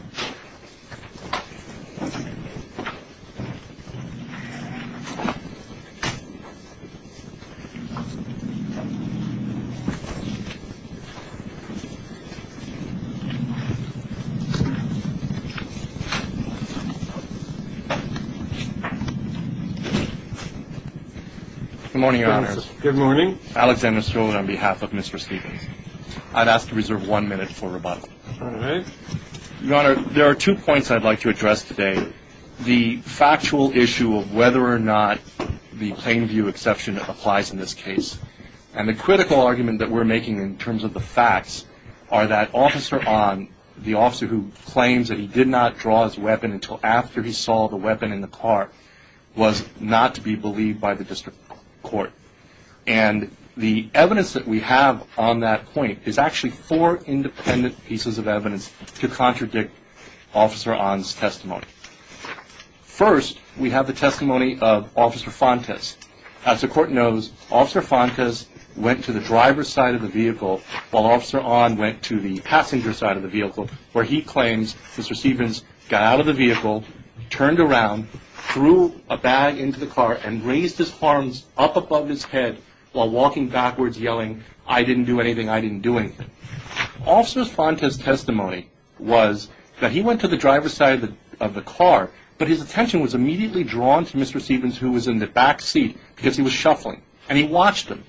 Good morning, Your Honors. Good morning. Alexander Stolen, on behalf of Mr. Stevens, I'd ask to reserve one minute for rebuttal. All right. Your Honor, there are two points I'd like to address today. The factual issue of whether or not the plain view exception applies in this case. And the critical argument that we're making in terms of the facts are that officer on, the officer who claims that he did not draw his weapon until after he saw the weapon in the car, was not to be believed by the district court. And the evidence that we have on that point is actually four independent pieces of evidence to contradict Officer On's testimony. First, we have the testimony of Officer Fontes. As the court knows, Officer Fontes went to the driver's side of the vehicle while Officer On went to the passenger side of the vehicle, where he claims Mr. Stevens got out of the vehicle, turned around, threw a bag into the car, and raised his arms up above his head while walking backwards yelling, I didn't do anything, I didn't do anything. Officer Fontes' testimony was that he went to the driver's side of the car, but his attention was immediately drawn to Mr. Stevens, who was in the back seat, because he was shuffling. And he watched him.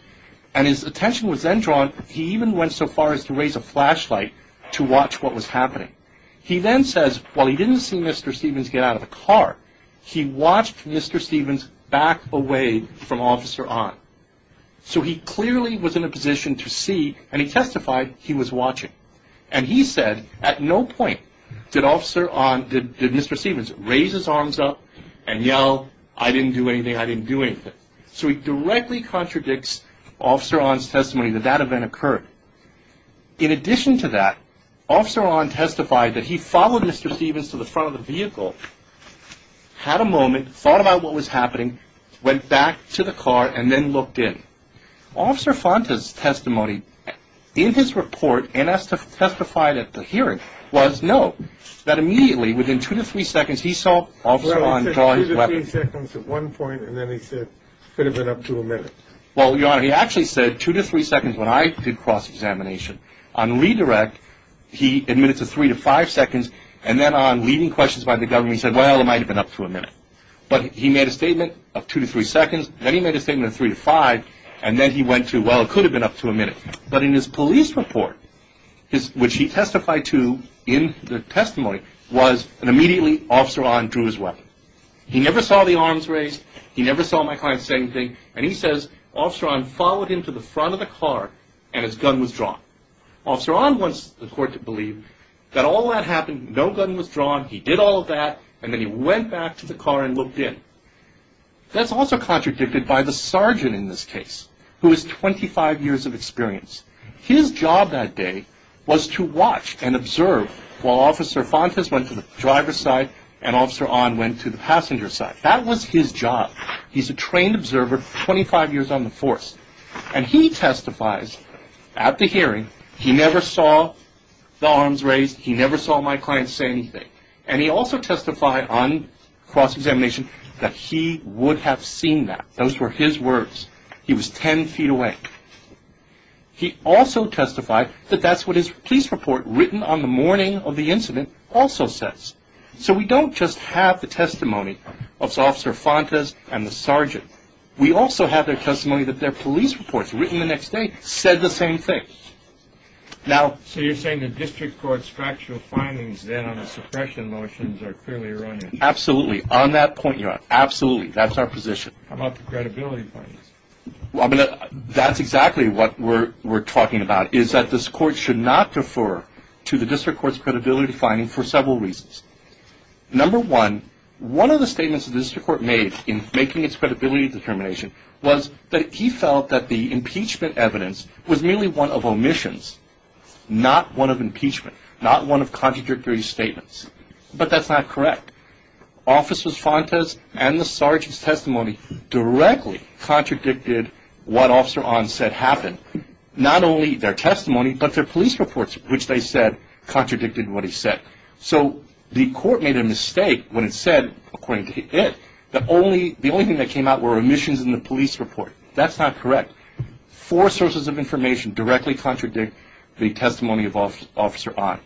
And his attention was then drawn, he even went so far as to raise a flashlight to watch what was happening. He then says, while he didn't see Mr. Stevens get out of the car, he watched Mr. Stevens back away from Officer On. So he clearly was in a position to see, and he testified he was watching. And he said at no point did Officer On, did Mr. Stevens raise his arms up and yell, I didn't do anything, I didn't do anything. So it directly contradicts Officer On's testimony that that event occurred. In addition to that, Officer On testified that he followed Mr. Stevens to the front of the vehicle, had a moment, thought about what was happening, went back to the car and then looked in. Officer Fontes' testimony in his report and testified at the hearing was, no, that immediately, within two to three seconds, he saw Officer On draw his weapon. Well, he said two to three seconds at one point, and then he said, could have been up to a minute. Well, Your Honor, he actually said two to three seconds when I did cross-examination. On redirect, he admitted to three to five seconds, and then on leading questions by the government, he said, well, it might have been up to a minute. But he made a statement of two to three seconds, then he made a statement of three to five, and then he went to, well, it could have been up to a minute. But in his police report, which he testified to in the testimony, was that immediately Officer On drew his weapon. He never saw the arms raised, he never saw my client saying a thing, and he says, Officer On followed him to the front of the car and his gun was drawn. Officer On wants the court to believe that all that happened, no gun was drawn, he did all of that, and then he went back to the car and looked in. That's also contradicted by the sergeant in this case, who is 25 years of experience. His job that day was to watch and observe while Officer Fontes went to the driver's side and Officer On went to the passenger's side. That was his job. He's a trained observer, 25 years on the force. And he testifies at the hearing, he never saw the arms raised, he never saw my client saying a thing. And he also testified on cross-examination that he would have seen that. Those were his words. He was ten feet away. He also testified that that's what his police report written on the morning of the incident also says. So we don't just have the testimony of Officer Fontes and the sergeant. We also have their testimony that their police reports written the next day said the same thing. So you're saying the District Court's factual findings then on the suppression motions are clearly erroneous? Absolutely. On that point, you're right. Absolutely. That's our position. How about the credibility findings? That's exactly what we're talking about, is that this Court should not defer to the District Court's credibility finding for several reasons. Number one, one of the statements the District Court made in making its credibility determination was that he felt that the impeachment evidence was merely one of omissions, not one of impeachment, not one of contradictory statements. But that's not correct. Officers Fontes and the sergeant's testimony directly contradicted what Officer Ahn said happened. Not only their testimony, but their police reports, which they said contradicted what he said. So the Court made a mistake when it said, according to it, the only thing that came out were omissions in the police report. That's not correct. Four sources of information directly contradict the testimony of Officer Ahn.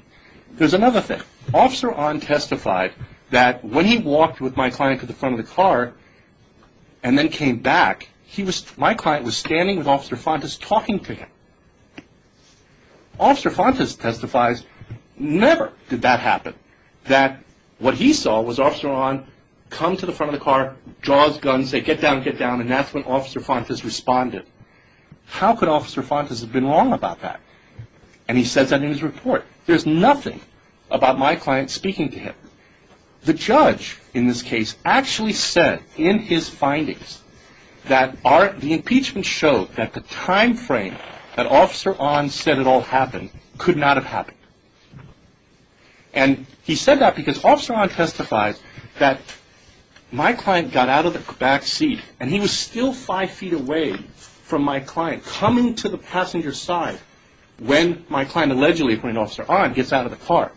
There's another thing. Officer Ahn testified that when he walked with my client to the front of the car and then came back, my client was standing with Officer Fontes talking to him. Officer Fontes testifies never did that happen, that what he saw was Officer Ahn come to the front of the car, draw his gun, say get down, get down, and that's when Officer Fontes responded. How could Officer Fontes have been wrong about that? And he says that in his report. There's nothing about my client speaking to him. The judge, in this case, actually said in his findings that the impeachment showed that the time frame that Officer Ahn said it all happened could not have happened. And he said that because Officer Ahn testifies that my client got out of the back seat and he was still five feet away from my client coming to the passenger side when my client allegedly, according to Officer Ahn, gets out of the car.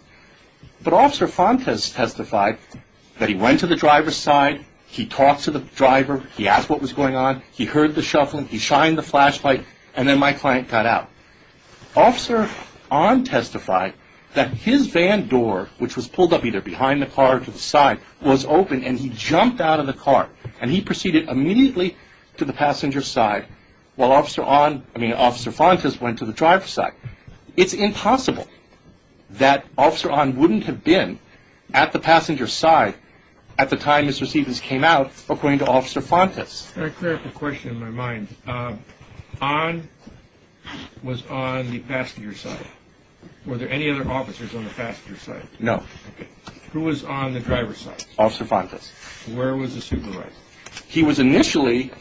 But Officer Fontes testified that he went to the driver's side, he talked to the driver, he asked what was going on, he heard the shuffling, he shined the flashlight, and then my client got out. Officer Ahn testified that his van door, which was pulled up either behind the car or to the passenger side, was open and he jumped out of the car and he proceeded immediately to the passenger side while Officer Fontes went to the driver's side. It's impossible that Officer Ahn wouldn't have been at the passenger side at the time Mr. Stevens came out, according to Officer Fontes. Can I clear up a question in my mind? Ahn was on the passenger side. Were there any other officers on the passenger side? No. Okay. Who was on the driver's side? Officer Fontes. Where was the supervisor? He was initially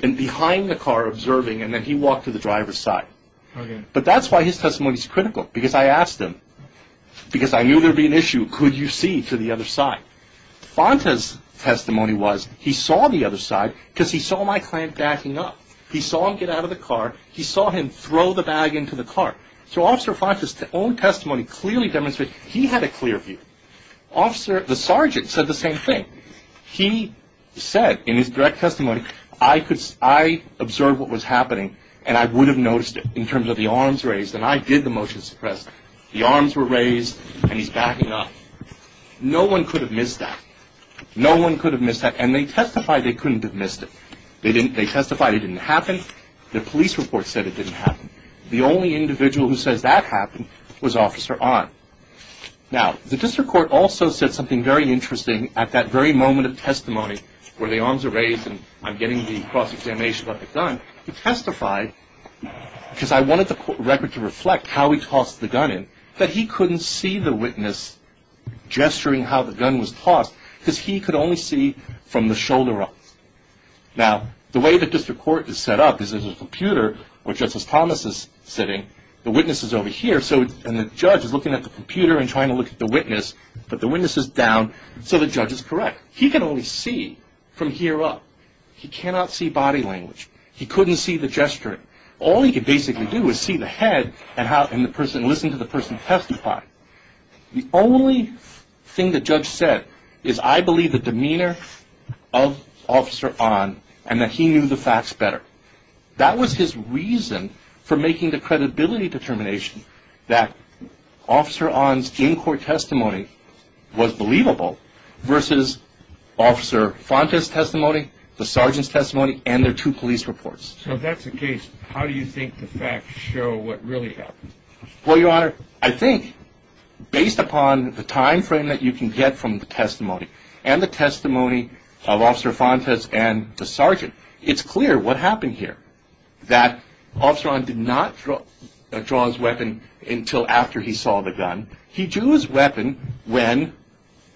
behind the car observing and then he walked to the driver's side. Okay. But that's why his testimony is critical, because I asked him, because I knew there would be an issue, could you see to the other side? Fontes' testimony was he saw the other side because he saw my client backing up. He saw him get out of the car, he saw him throw the bag into the car. So Officer Fontes' own testimony clearly demonstrated he had a clear view. The sergeant said the same thing. He said in his direct testimony, I observed what was happening and I would have noticed it in terms of the arms raised and I did the motion to suppress. The arms were raised and he's backing up. No one could have missed that. No one could have missed that and they testified they couldn't have missed it. They testified it didn't happen. The police report said it didn't happen. The only individual who says that happened was Officer Onn. Now, the district court also said something very interesting at that very moment of testimony where the arms are raised and I'm getting the cross-examination about the gun. He testified, because I wanted the record to reflect how he tossed the gun in, that he couldn't see the witness gesturing how the gun was tossed because he could only see from the shoulder up. Now, the way the district court is set up is there's a computer where Justice Thomas is sitting. The witness is over here and the judge is looking at the computer and trying to look at the witness but the witness is down so the judge is correct. He can only see from here up. He cannot see body language. He couldn't see the gesturing. All he could basically do is see the head and listen to the person testify. The only thing the judge said is I believe the demeanor of Officer Onn and that he knew the facts better. That was his reason for making the credibility determination that Officer Onn's in-court testimony was believable versus Officer Fonta's testimony, the sergeant's testimony and their two police reports. So if that's the case, how do you think the facts show what really happened? Well, Your Honor, I think based upon the time frame that you can get from the testimony and the testimony of Officer Fonta's and the sergeant, it's clear what happened here. That Officer Onn did not draw his weapon until after he saw the gun. He drew his weapon when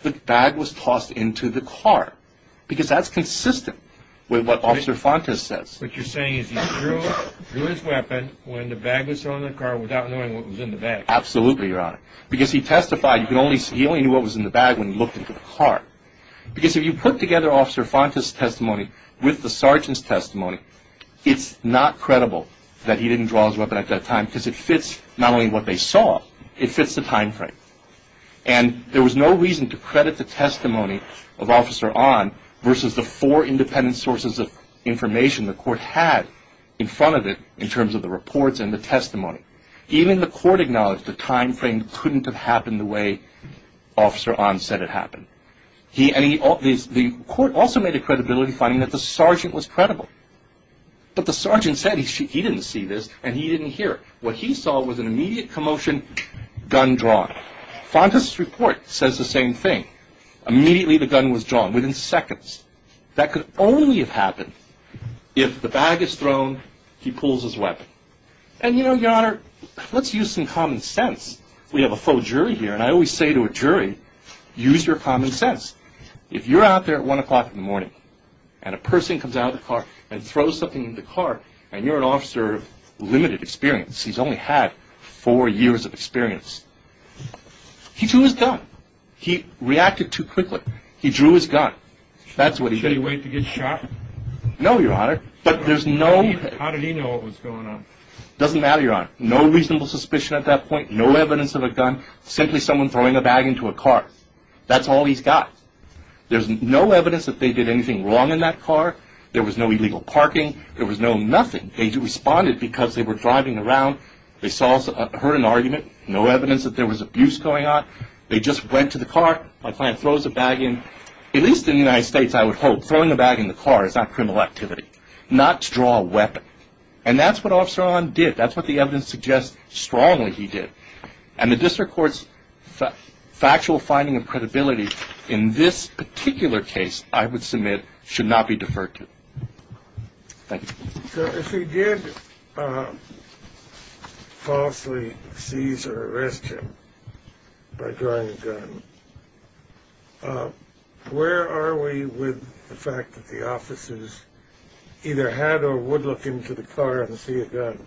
the bag was tossed into the car because that's consistent with what Officer Fonta says. What you're saying is he drew his weapon when the bag was thrown in the car without knowing what was in the bag. Absolutely, Your Honor. Because he testified, he only knew what was in the bag when he looked into the car. Because if you put together Officer Fonta's testimony with the sergeant's testimony, it's not credible that he didn't draw his weapon at that time because it fits not only what they saw, it fits the time frame. And there was no reason to credit the testimony of Officer Onn versus the four independent sources of information the court had in front of it in terms of the reports and the testimony. Even the court acknowledged the time frame couldn't have happened the way Officer Onn said it happened. The court also made a credibility finding that the sergeant was credible. But the sergeant said he didn't see this and he didn't hear it. What he saw was an immediate commotion, gun drawn. Fonta's report says the same thing. Immediately the gun was drawn, within seconds. That could only have happened if the bag is thrown, he pulls his weapon. And you know, Your Honor, let's use some common sense. We have a faux jury here and I always say to a jury, use your common sense. If you're out there at 1 o'clock in the morning and a person comes out of the car and throws something in the car and you're an officer of limited experience, he's only had four years of experience, he drew his gun. He reacted too quickly. He drew his gun. That's what he did. Should he wait to get shot? No, Your Honor. But there's no... How did he know what was going on? Doesn't matter, Your Honor. No reasonable suspicion at that point. No evidence of a gun. Simply someone throwing a bag into a car. That's all he's got. There's no evidence that they did anything wrong in that car. There was no illegal parking. There was no nothing. They responded because they were driving around. They heard an argument. No evidence that there was abuse going on. They just went to the car. My client throws a bag in. At least in the United States, I would hope, throwing a bag in the car is not criminal activity. Not to draw a weapon. And that's what Officer Ong did. That's what the evidence suggests strongly he did. And the District Court's factual finding of credibility in this particular case, I would submit, should not be deferred to. Thank you. So if he did falsely seize or arrest him by drawing a gun, where are we with the fact that the officers either had or would look into the car and see a gun?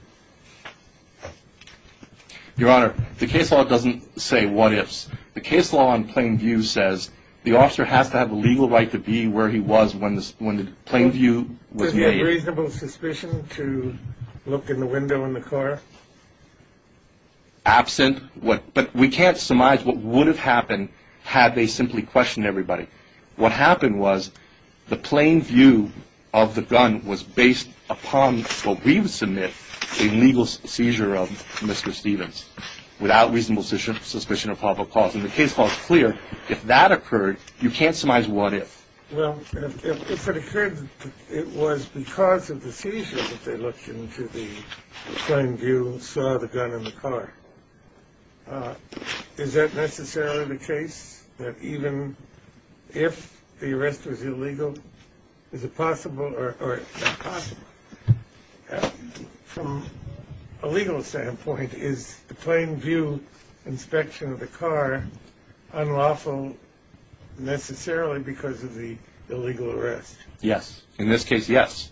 Your Honor, the case law doesn't say what ifs. The case law in plain view says the officer has to have a legal right to be where he was when the plain view was made. So there's no reasonable suspicion to look in the window in the car? Absent. But we can't surmise what would have happened had they simply questioned everybody. What happened was the plain view of the gun was based upon what we would submit, a legal seizure of Mr. Stevens, without reasonable suspicion of probable cause. And the case law is clear. If that occurred, you can't surmise what if. Well, if it occurred it was because of the seizure that they looked into the plain view and saw the gun in the car, is that necessarily the case? That even if the arrest was illegal, is it possible or not possible? From a legal standpoint, is the plain view inspection of necessarily because of the illegal arrest? Yes. In this case, yes.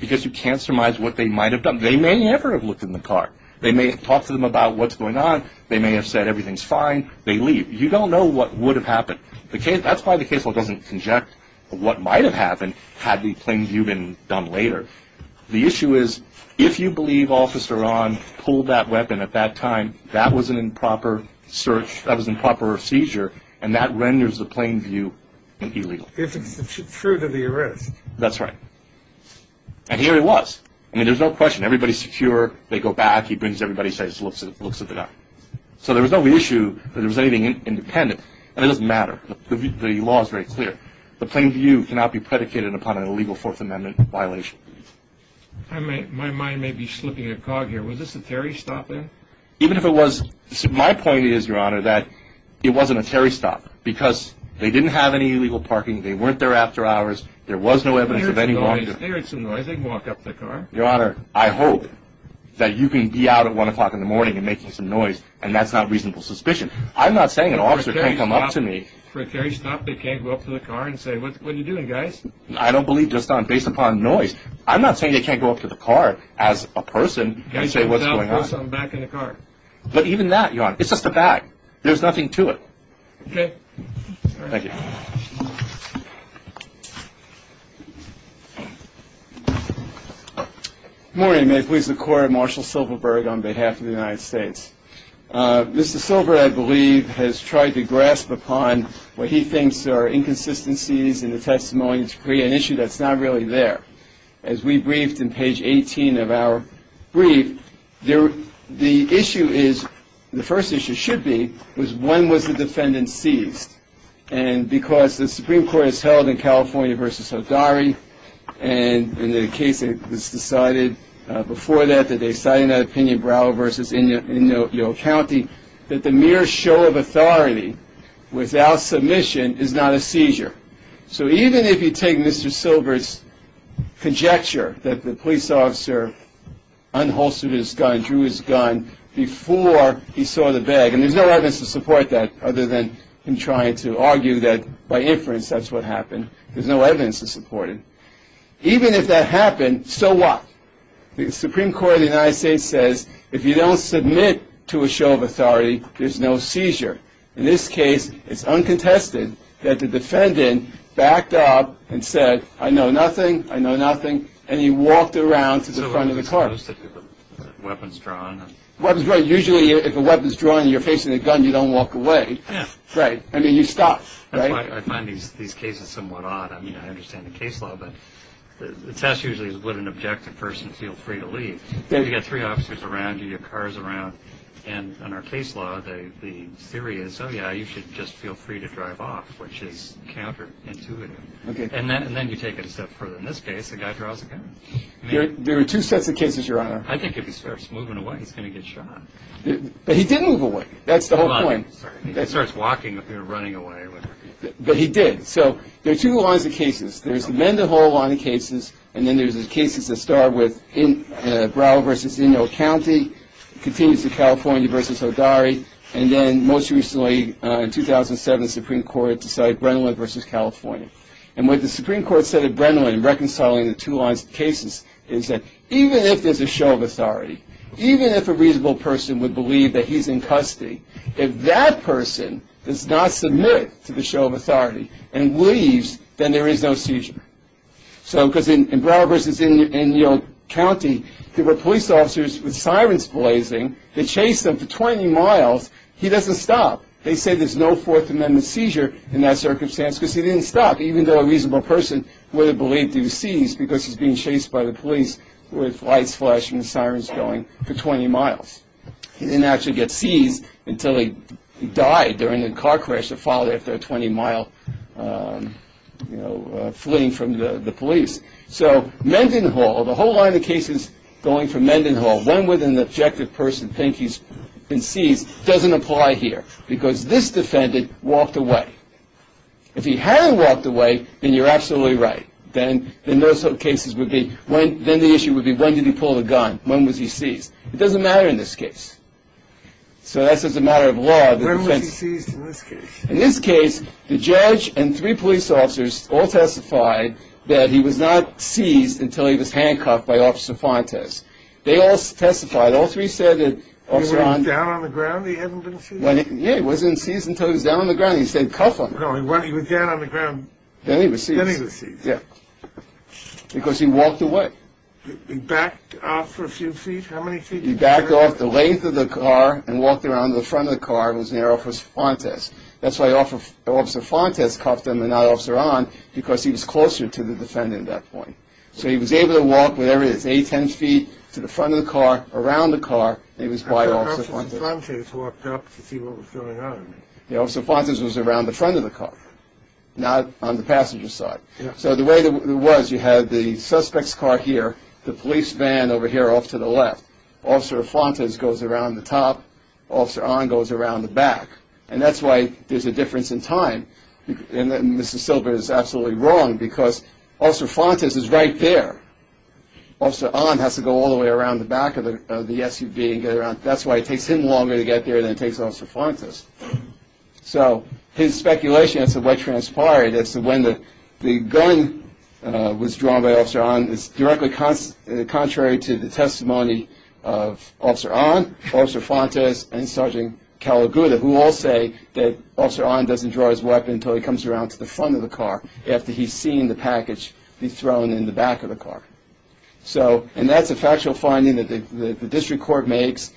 Because you can't surmise what they might have done. They may never have looked in the car. They may have talked to them about what's going on. They may have said everything's fine. They leave. You don't know what would have happened. That's why the case law doesn't conject what might have happened had the plain view been done later. The issue is if you believe Officer Pulled that weapon at that time. That was an improper search. That was an improper seizure. And that renders the plain view illegal. If it's true to the arrest. That's right. And here it was. I mean, there's no question. Everybody's secure. They go back. He brings everybody, says, looks at the gun. So there was no issue that there was anything independent. And it doesn't matter. The law is very clear. The plain view cannot be predicated upon an illegal Fourth Amendment violation. My mind may be slipping a cog here. Was this a Terry stop in? Even if it was. My point is, Your Honor, that it wasn't a Terry stop because they didn't have any illegal parking. They weren't there after hours. There was no evidence of any walk up the car. Your Honor, I hope that you can be out at one o'clock in the morning and making some noise. And that's not reasonable suspicion. I'm not saying an officer can't come up to me for a Terry stop. They can't go up to the car and say, what I believe just on based upon noise. I'm not saying they can't go up to the car as a person and say what's going on back in the car. But even that, Your Honor, it's just a bag. There's nothing to it. Okay. Thank you. Morning. May it please the court. Marshall Silverberg on behalf of the United States. Mr. Silver, I believe, has tried to grasp upon what he thinks are inconsistencies in the testimony to create an issue that's not really there. As we briefed in page 18 of our brief, the issue is, the first issue should be, was when was the defendant seized? And because the Supreme Court has held in California versus Hodari, and in the case that was decided before that, that they decided in that opinion, Brow versus Inyo County, that the mere show of authority without submission is not a seizure. So even if you take Mr. Silver's conjecture that the police officer unholstered his gun, drew his gun, before he saw the bag, and there's no evidence to support that other than him trying to argue that by inference that's what happened. There's no evidence to support it. Even if that happened, so what? The Supreme Court of the United States says, if you don't submit to a show of authority, there's no seizure. In this case, it's uncontested that the defendant backed up and said, I know nothing, I know nothing, and he walked around to the front of the car. So is it supposed to be weapons drawn? Weapons drawn, usually if a weapon's drawn and you're facing a gun, you don't walk away. Yeah. Right. I mean, you stop, right? That's why I find these cases somewhat odd. I mean, I understand the case law, but the test usually is would an objective person feel free to leave? You've got three officers around you, you've got cars around, and under case law, the theory is, oh, yeah, you should just feel free to drive off, which is counterintuitive. Okay. And then you take it a step further. In this case, the guy draws a gun. There are two sets of cases, Your Honor. I think if he starts moving away, he's going to get shot. But he didn't move away. That's the whole point. He starts walking if you're running away. But he did. So there are two lines of cases. There's the Mendenhall line of cases, and then there's the cases that start with Brow versus Ingle County, continues to California versus Hodari, and then most recently, in 2007, the Supreme Court decided Brennan versus California. And what the Supreme Court said at Brennan in reconciling the two lines of cases is that even if there's a show of authority, even if a reasonable person would believe that he's in custody, if that person does not submit to the show of authority and leaves, then there is no seizure. So because in Brow versus Ingle County, there were police officers with sirens blazing that chased them for 20 miles. He doesn't stop. They say there's no Fourth Amendment seizure in that circumstance because he didn't stop, even though a reasonable person would have believed he was seized because he's being chased by the police with sirens. He didn't actually get seized until he died during a car crash that followed after a 20-mile fleeing from the police. So Mendenhall, the whole line of cases going from Mendenhall, when would an objective person think he's been seized, doesn't apply here because this defendant walked away. If he hadn't walked away, then you're absolutely right. Then the issue would be, when did he pull the brakes? So that's just a matter of law. When was he seized in this case? In this case, the judge and three police officers all testified that he was not seized until he was handcuffed by Officer Fontes. They all testified. All three said that Officer Fontes... He wasn't down on the ground? He hadn't been seized? Yeah, he wasn't seized until he was down on the ground. He said, cuff him. No, he was down on the ground. Then he was seized. Because he walked away. He backed off for a few feet? How many feet? He backed off the length of the car and walked around the front of the car and was near Officer Fontes. That's why Officer Fontes cuffed him and not Officer Ahn, because he was closer to the defendant at that point. So he was able to walk whatever it is, 8, 10 feet to the front of the car, around the car, and he was by Officer Fontes. I thought Officer Fontes walked up to see what was going on. Yeah, Officer Fontes was around the front of the car, not on the passenger side. So the way it was, you had the suspect's car here, the police van over here off to the left. Officer Fontes goes around the top, Officer Ahn goes around the back. And that's why there's a difference in time. And Mr. Silber is absolutely wrong, because Officer Fontes is right there. Officer Ahn has to go all the way around the back of the SUV and get around. That's why it takes him longer to get there than it takes Officer Fontes. So his speculation as to what transpired, as to when the gun was drawn by Officer Ahn, is directly contrary to the testimony of Officer Ahn, Officer Fontes, and Sergeant Calagutta, who all say that Officer Ahn doesn't draw his weapon until he comes around to the front of the car, after he's seen the package be thrown in the back of the car. And that's a factual finding that the district court makes.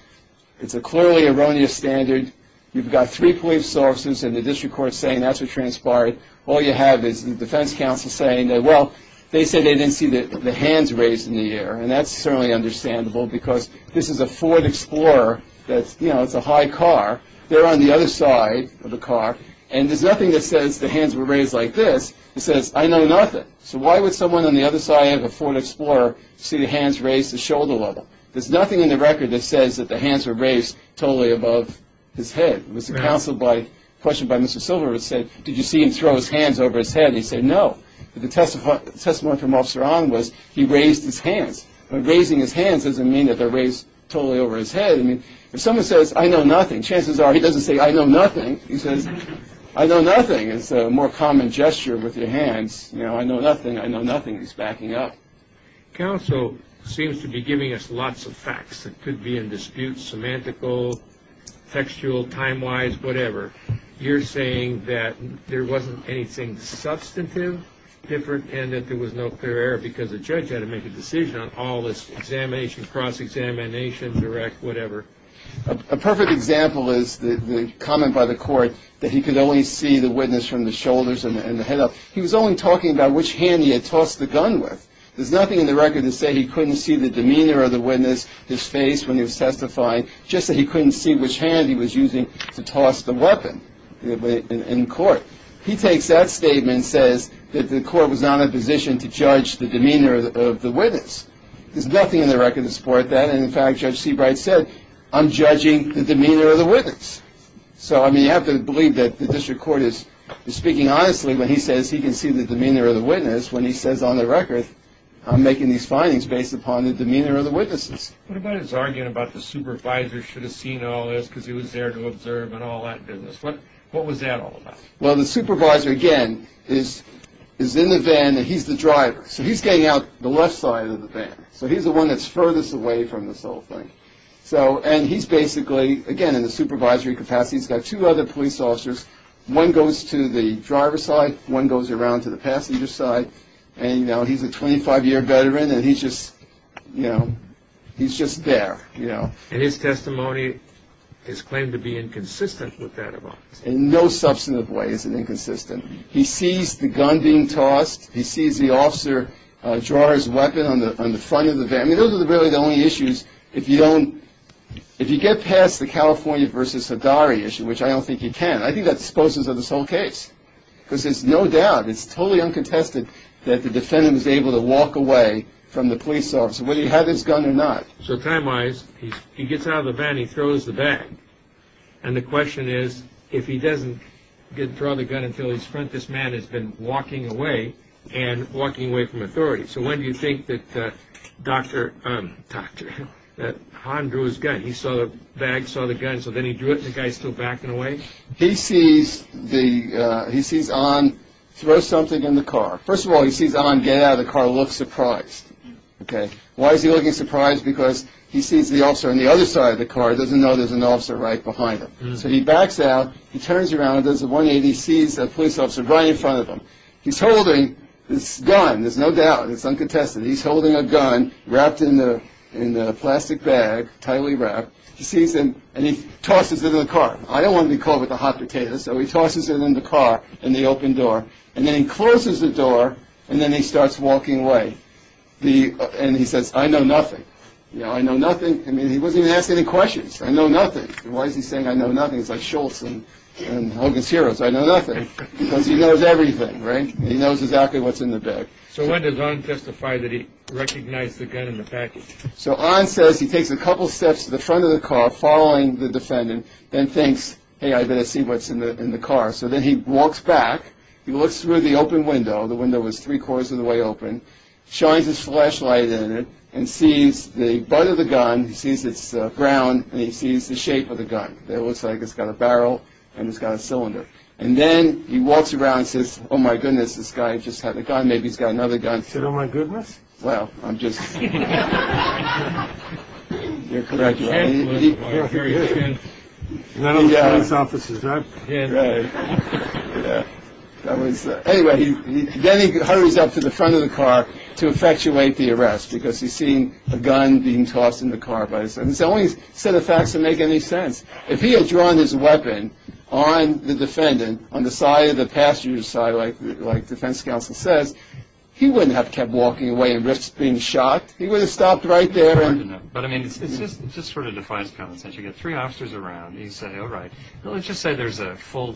It's a clearly erroneous standard. You've got three police officers, and the district court's saying that's what transpired. All you have is the defense counsel saying that, well, they said they didn't see the hands raised in the air. And that's certainly understandable, because this is a Ford Explorer that's, you know, it's a high car. They're on the other side of the car, and there's nothing that says the hands were raised like this. It says, I know nothing. So why would someone on the other side of a Ford Explorer see the hands raised to shoulder level? There's nothing in the record that says that the hands were raised totally above his head. It was a question by Mr. Silver that said, did you see him throw his hands over his head? And he said no. But the testimony from Officer Ahn was he raised his hands. Raising his hands doesn't mean that they're raised totally over his head. I mean, if someone says, I know nothing, chances are he doesn't say, I know nothing. He says, I know nothing is a more common gesture with your hands. You know, I know nothing, I know nothing. He's backing up. Counsel seems to be giving us lots of facts that could be in dispute, semantical, textual, time-wise, whatever. You're saying that there wasn't anything substantive, different, and that there was no clear error because the judge had to make a decision on all this examination, cross-examination, direct, whatever. A perfect example is the comment by the court that he could only see the witness from the shoulders and the head up. He was only talking about which hand he had tossed the gun with. There's nothing in the record to say he couldn't see the demeanor of the witness, his face when he was testifying, just that he couldn't see which hand he was using to toss the weapon in court. He takes that statement and says that the court was not in a position to judge the demeanor of the witness. There's nothing in the record to support that. And, in fact, Judge Seabright said, I'm judging the demeanor of the witness. So, I mean, you have to believe that the district court is speaking honestly when he says he can see the demeanor of the witness when he says on the record I'm making these findings based upon the demeanor of the witnesses. What about his argument about the supervisor should have seen all this because he was there to observe and all that business? What was that all about? Well, the supervisor, again, is in the van and he's the driver. So he's getting out the left side of the van. So he's the one that's furthest away from this whole thing. And he's basically, again, in the supervisory capacity. He's got two other police officers. One goes to the driver's side. One goes around to the passenger's side. And, you know, he's a 25-year veteran and he's just, you know, he's just there, you know. And his testimony is claimed to be inconsistent with that of ours. In no substantive way is it inconsistent. He sees the gun being tossed. He sees the officer draw his weapon on the front of the van. I mean, those are really the only issues. If you don't, if you get past the California versus Haddari issue, which I don't think you can, I think that disposes of this whole case because there's no doubt, it's totally uncontested, that the defendant was able to walk away from the police officer whether he had his gun or not. So time-wise, he gets out of the van, he throws the bag. And the question is, if he doesn't draw the gun until his front, this man has been walking away and walking away from authority. So when do you think that Han drew his gun? He saw the bag, saw the gun, so then he drew it and the guy's still backing away? He sees Han throw something in the car. First of all, he sees Han get out of the car and look surprised. Why is he looking surprised? Because he sees the officer on the other side of the car, doesn't know there's an officer right behind him. So he backs out, he turns around, does a 180, sees the police officer right in front of him. He's holding his gun, there's no doubt, it's uncontested. He's holding a gun wrapped in a plastic bag, tightly wrapped. He sees him and he tosses it in the car. I don't want to be caught with a hot potato, so he tosses it in the car in the open door. And then he closes the door and then he starts walking away. And he says, I know nothing. I know nothing. I mean, he wasn't even asking any questions. I know nothing. Why is he saying I know nothing? It's like Schultz in Hogan's Heroes. I know nothing because he knows everything, right? He knows exactly what's in the bag. So when does Han testify that he recognized the gun in the package? So Han says he takes a couple steps to the front of the car following the defendant, then thinks, hey, I better see what's in the car. So then he walks back. He looks through the open window. The window was three-quarters of the way open. He shines his flashlight in it and sees the butt of the gun. He sees its ground and he sees the shape of the gun. It looks like it's got a barrel and it's got a cylinder. And then he walks around and says, oh, my goodness, this guy just had a gun. Maybe he's got another gun. He said, oh, my goodness? Well, I'm just – you're correct. Han was a very good – one of the police officers, right? Han. Right. Anyway, then he hurries up to the front of the car to effectuate the arrest because he's seen a gun being tossed in the car. It's the only set of facts that make any sense. If he had drawn his weapon on the defendant on the side of the passenger side, like defense counsel says, he wouldn't have kept walking away and risked being shot. He would have stopped right there. But, I mean, it just sort of defies common sense. You get three officers around and you say, all right, let's just say there's a full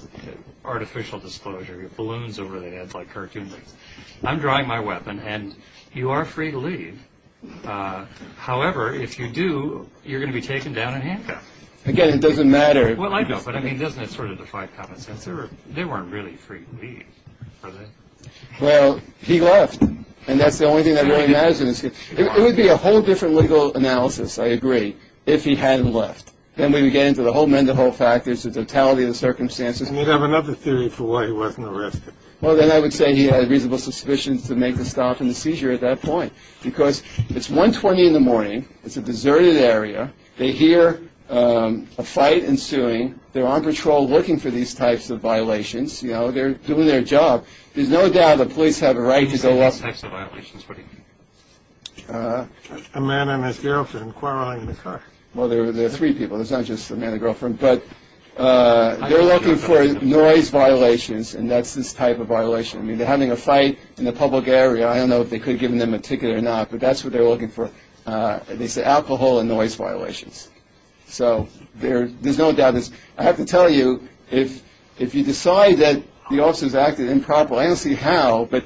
artificial disclosure. You have balloons over their heads like cartoon things. I'm drawing my weapon and you are free to leave. However, if you do, you're going to be taken down in handcuffs. Again, it doesn't matter. Well, I know. But, I mean, doesn't it sort of defy common sense? They weren't really free to leave, were they? Well, he left. And that's the only thing that really matters. It would be a whole different legal analysis, I agree, if he hadn't left. Then we would get into the whole mental factors, the totality of the circumstances. You'd have another theory for why he wasn't arrested. Well, then I would say he had reasonable suspicions to make the stop in the seizure at that point because it's 1.20 in the morning. It's a deserted area. They hear a fight ensuing. They're on patrol looking for these types of violations. You know, they're doing their job. There's no doubt the police have a right to go up. What types of violations? A man and his girlfriend quarreling in the car. Well, there are three people. There's not just a man and a girlfriend. But they're looking for noise violations, and that's this type of violation. I mean, they're having a fight in a public area. I don't know if they could have given them a ticket or not, but that's what they're looking for. They say alcohol and noise violations. So there's no doubt. I have to tell you, if you decide that the officers acted improperly, I don't see how, but,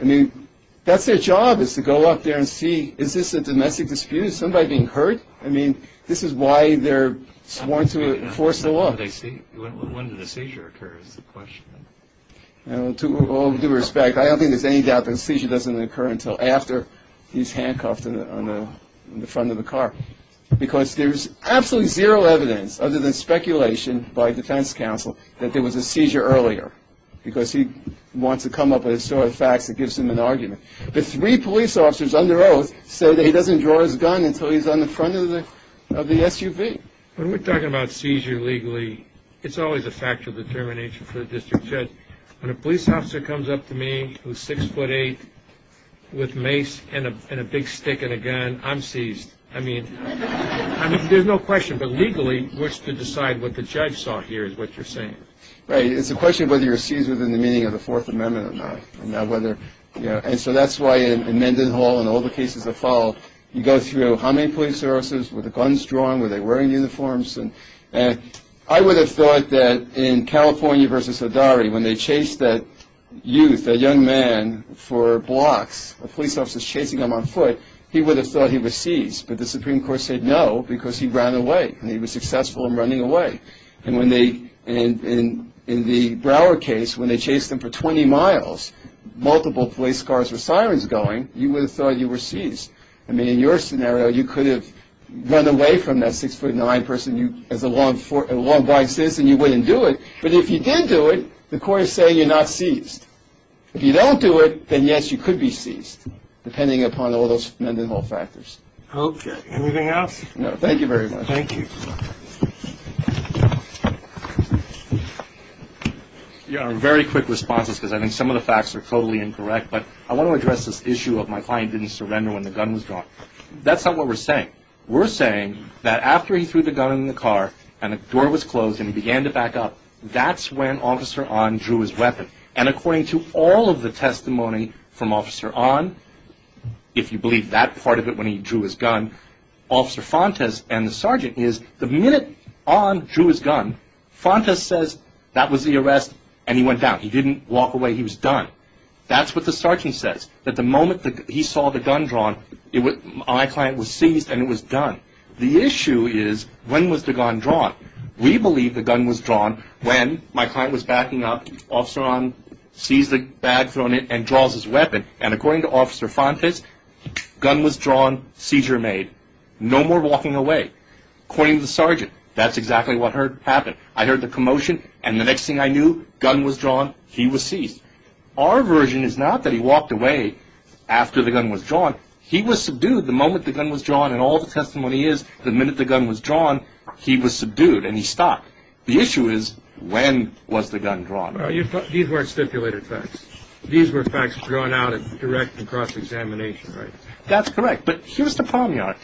I mean, that's their job is to go up there and see, is this a domestic dispute? Is somebody being hurt? I mean, this is why they're sworn to enforce the law. When did the seizure occur is the question. To all due respect, I don't think there's any doubt that a seizure doesn't occur until after he's handcuffed on the front of the car, because there's absolutely zero evidence other than speculation by defense counsel that there was a seizure earlier, because he wants to come up with a story of facts that gives him an argument. The three police officers under oath say that he doesn't draw his gun until he's on the front of the SUV. When we're talking about seizure legally, it's always a factor of determination for the district judge. When a police officer comes up to me who's 6'8", with mace and a big stick and a gun, I'm seized. I mean, there's no question, but legally, what's to decide what the judge saw here is what you're saying. Right. It's a question of whether you're seized within the meaning of the Fourth Amendment or not. And so that's why in Mendenhall and all the cases that follow, you go through how many police officers, were the guns drawn, were they wearing uniforms? I would have thought that in California v. Hidari, when they chased that youth, that young man for blocks, a police officer's chasing him on foot, he would have thought he was seized. But the Supreme Court said no, because he ran away, and he was successful in running away. And in the Brower case, when they chased him for 20 miles, multiple police cars with sirens going, you would have thought you were seized. I mean, in your scenario, you could have run away from that 6'9 person as a law-abiding citizen. You wouldn't do it. But if you did do it, the court is saying you're not seized. If you don't do it, then, yes, you could be seized, depending upon all those Mendenhall factors. Okay. Anything else? No. Thank you very much. Thank you. Very quick responses, because I think some of the facts are totally incorrect. But I want to address this issue of my client didn't surrender when the gun was drawn. That's not what we're saying. We're saying that after he threw the gun in the car and the door was closed and he began to back up, that's when Officer Ahn drew his weapon. And according to all of the testimony from Officer Ahn, if you believe that part of it when he drew his gun, Officer Fontes and the sergeant is the minute Ahn drew his gun, Fontes says that was the arrest, and he went down. He didn't walk away. He was done. That's what the sergeant says, that the moment he saw the gun drawn, my client was seized and it was done. The issue is when was the gun drawn? We believe the gun was drawn when my client was backing up, Officer Ahn sees the bag thrown in and draws his weapon. And according to Officer Fontes, gun was drawn, seizure made. No more walking away. According to the sergeant, that's exactly what happened. I heard the commotion, and the next thing I knew, gun was drawn, he was seized. Our version is not that he walked away after the gun was drawn. He was subdued the moment the gun was drawn. And all the testimony is the minute the gun was drawn, he was subdued and he stopped. The issue is when was the gun drawn? These weren't stipulated facts. These were facts drawn out in direct and cross-examination. That's correct. But here's the problem.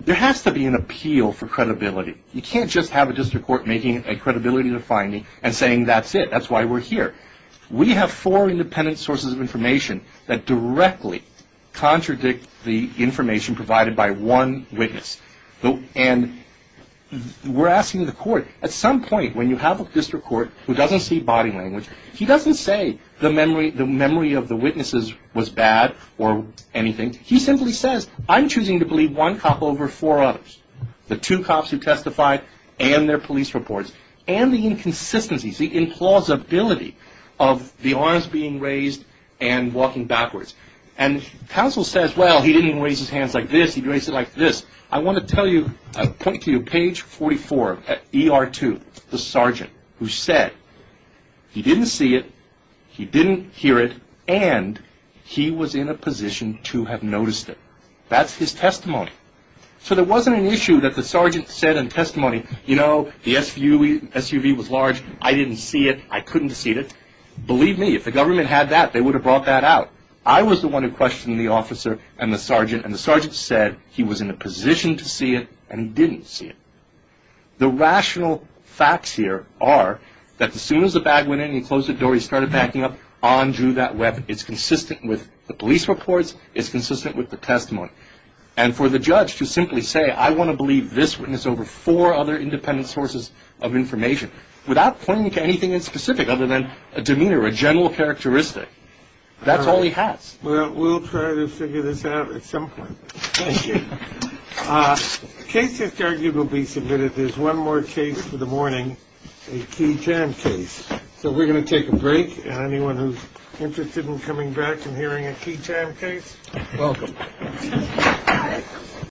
There has to be an appeal for credibility. You can't just have a district court making a credibility finding and saying that's it, that's why we're here. We have four independent sources of information that directly contradict the information provided by one witness. And we're asking the court, at some point when you have a district court who doesn't see body language, he doesn't say the memory of the witnesses was bad or anything. He simply says, I'm choosing to believe one cop over four others. The two cops who testified and their police reports. And the inconsistencies, the implausibility of the arms being raised and walking backwards. And counsel says, well, he didn't raise his hands like this, he raised it like this. I want to tell you, point to you, page 44, ER2, the sergeant who said he didn't see it, he didn't hear it, and he was in a position to have noticed it. That's his testimony. So there wasn't an issue that the sergeant said in testimony, you know, the SUV was large, I didn't see it, I couldn't see it. Believe me, if the government had that, they would have brought that out. I was the one who questioned the officer and the sergeant, and the sergeant said he was in a position to see it, and he didn't see it. The rational facts here are that as soon as the bag went in, he closed the door, he started backing up, on drew that weapon. It's consistent with the police reports, it's consistent with the testimony. And for the judge to simply say, I want to believe this witness over four other independent sources of information, without pointing to anything in specific other than a demeanor, a general characteristic, that's all he has. Well, we'll try to figure this out at some point. Thank you. The case is arguably submitted. There's one more case for the morning, a key time case. So we're going to take a break. And anyone who's interested in coming back and hearing a key time case, welcome. Thank you.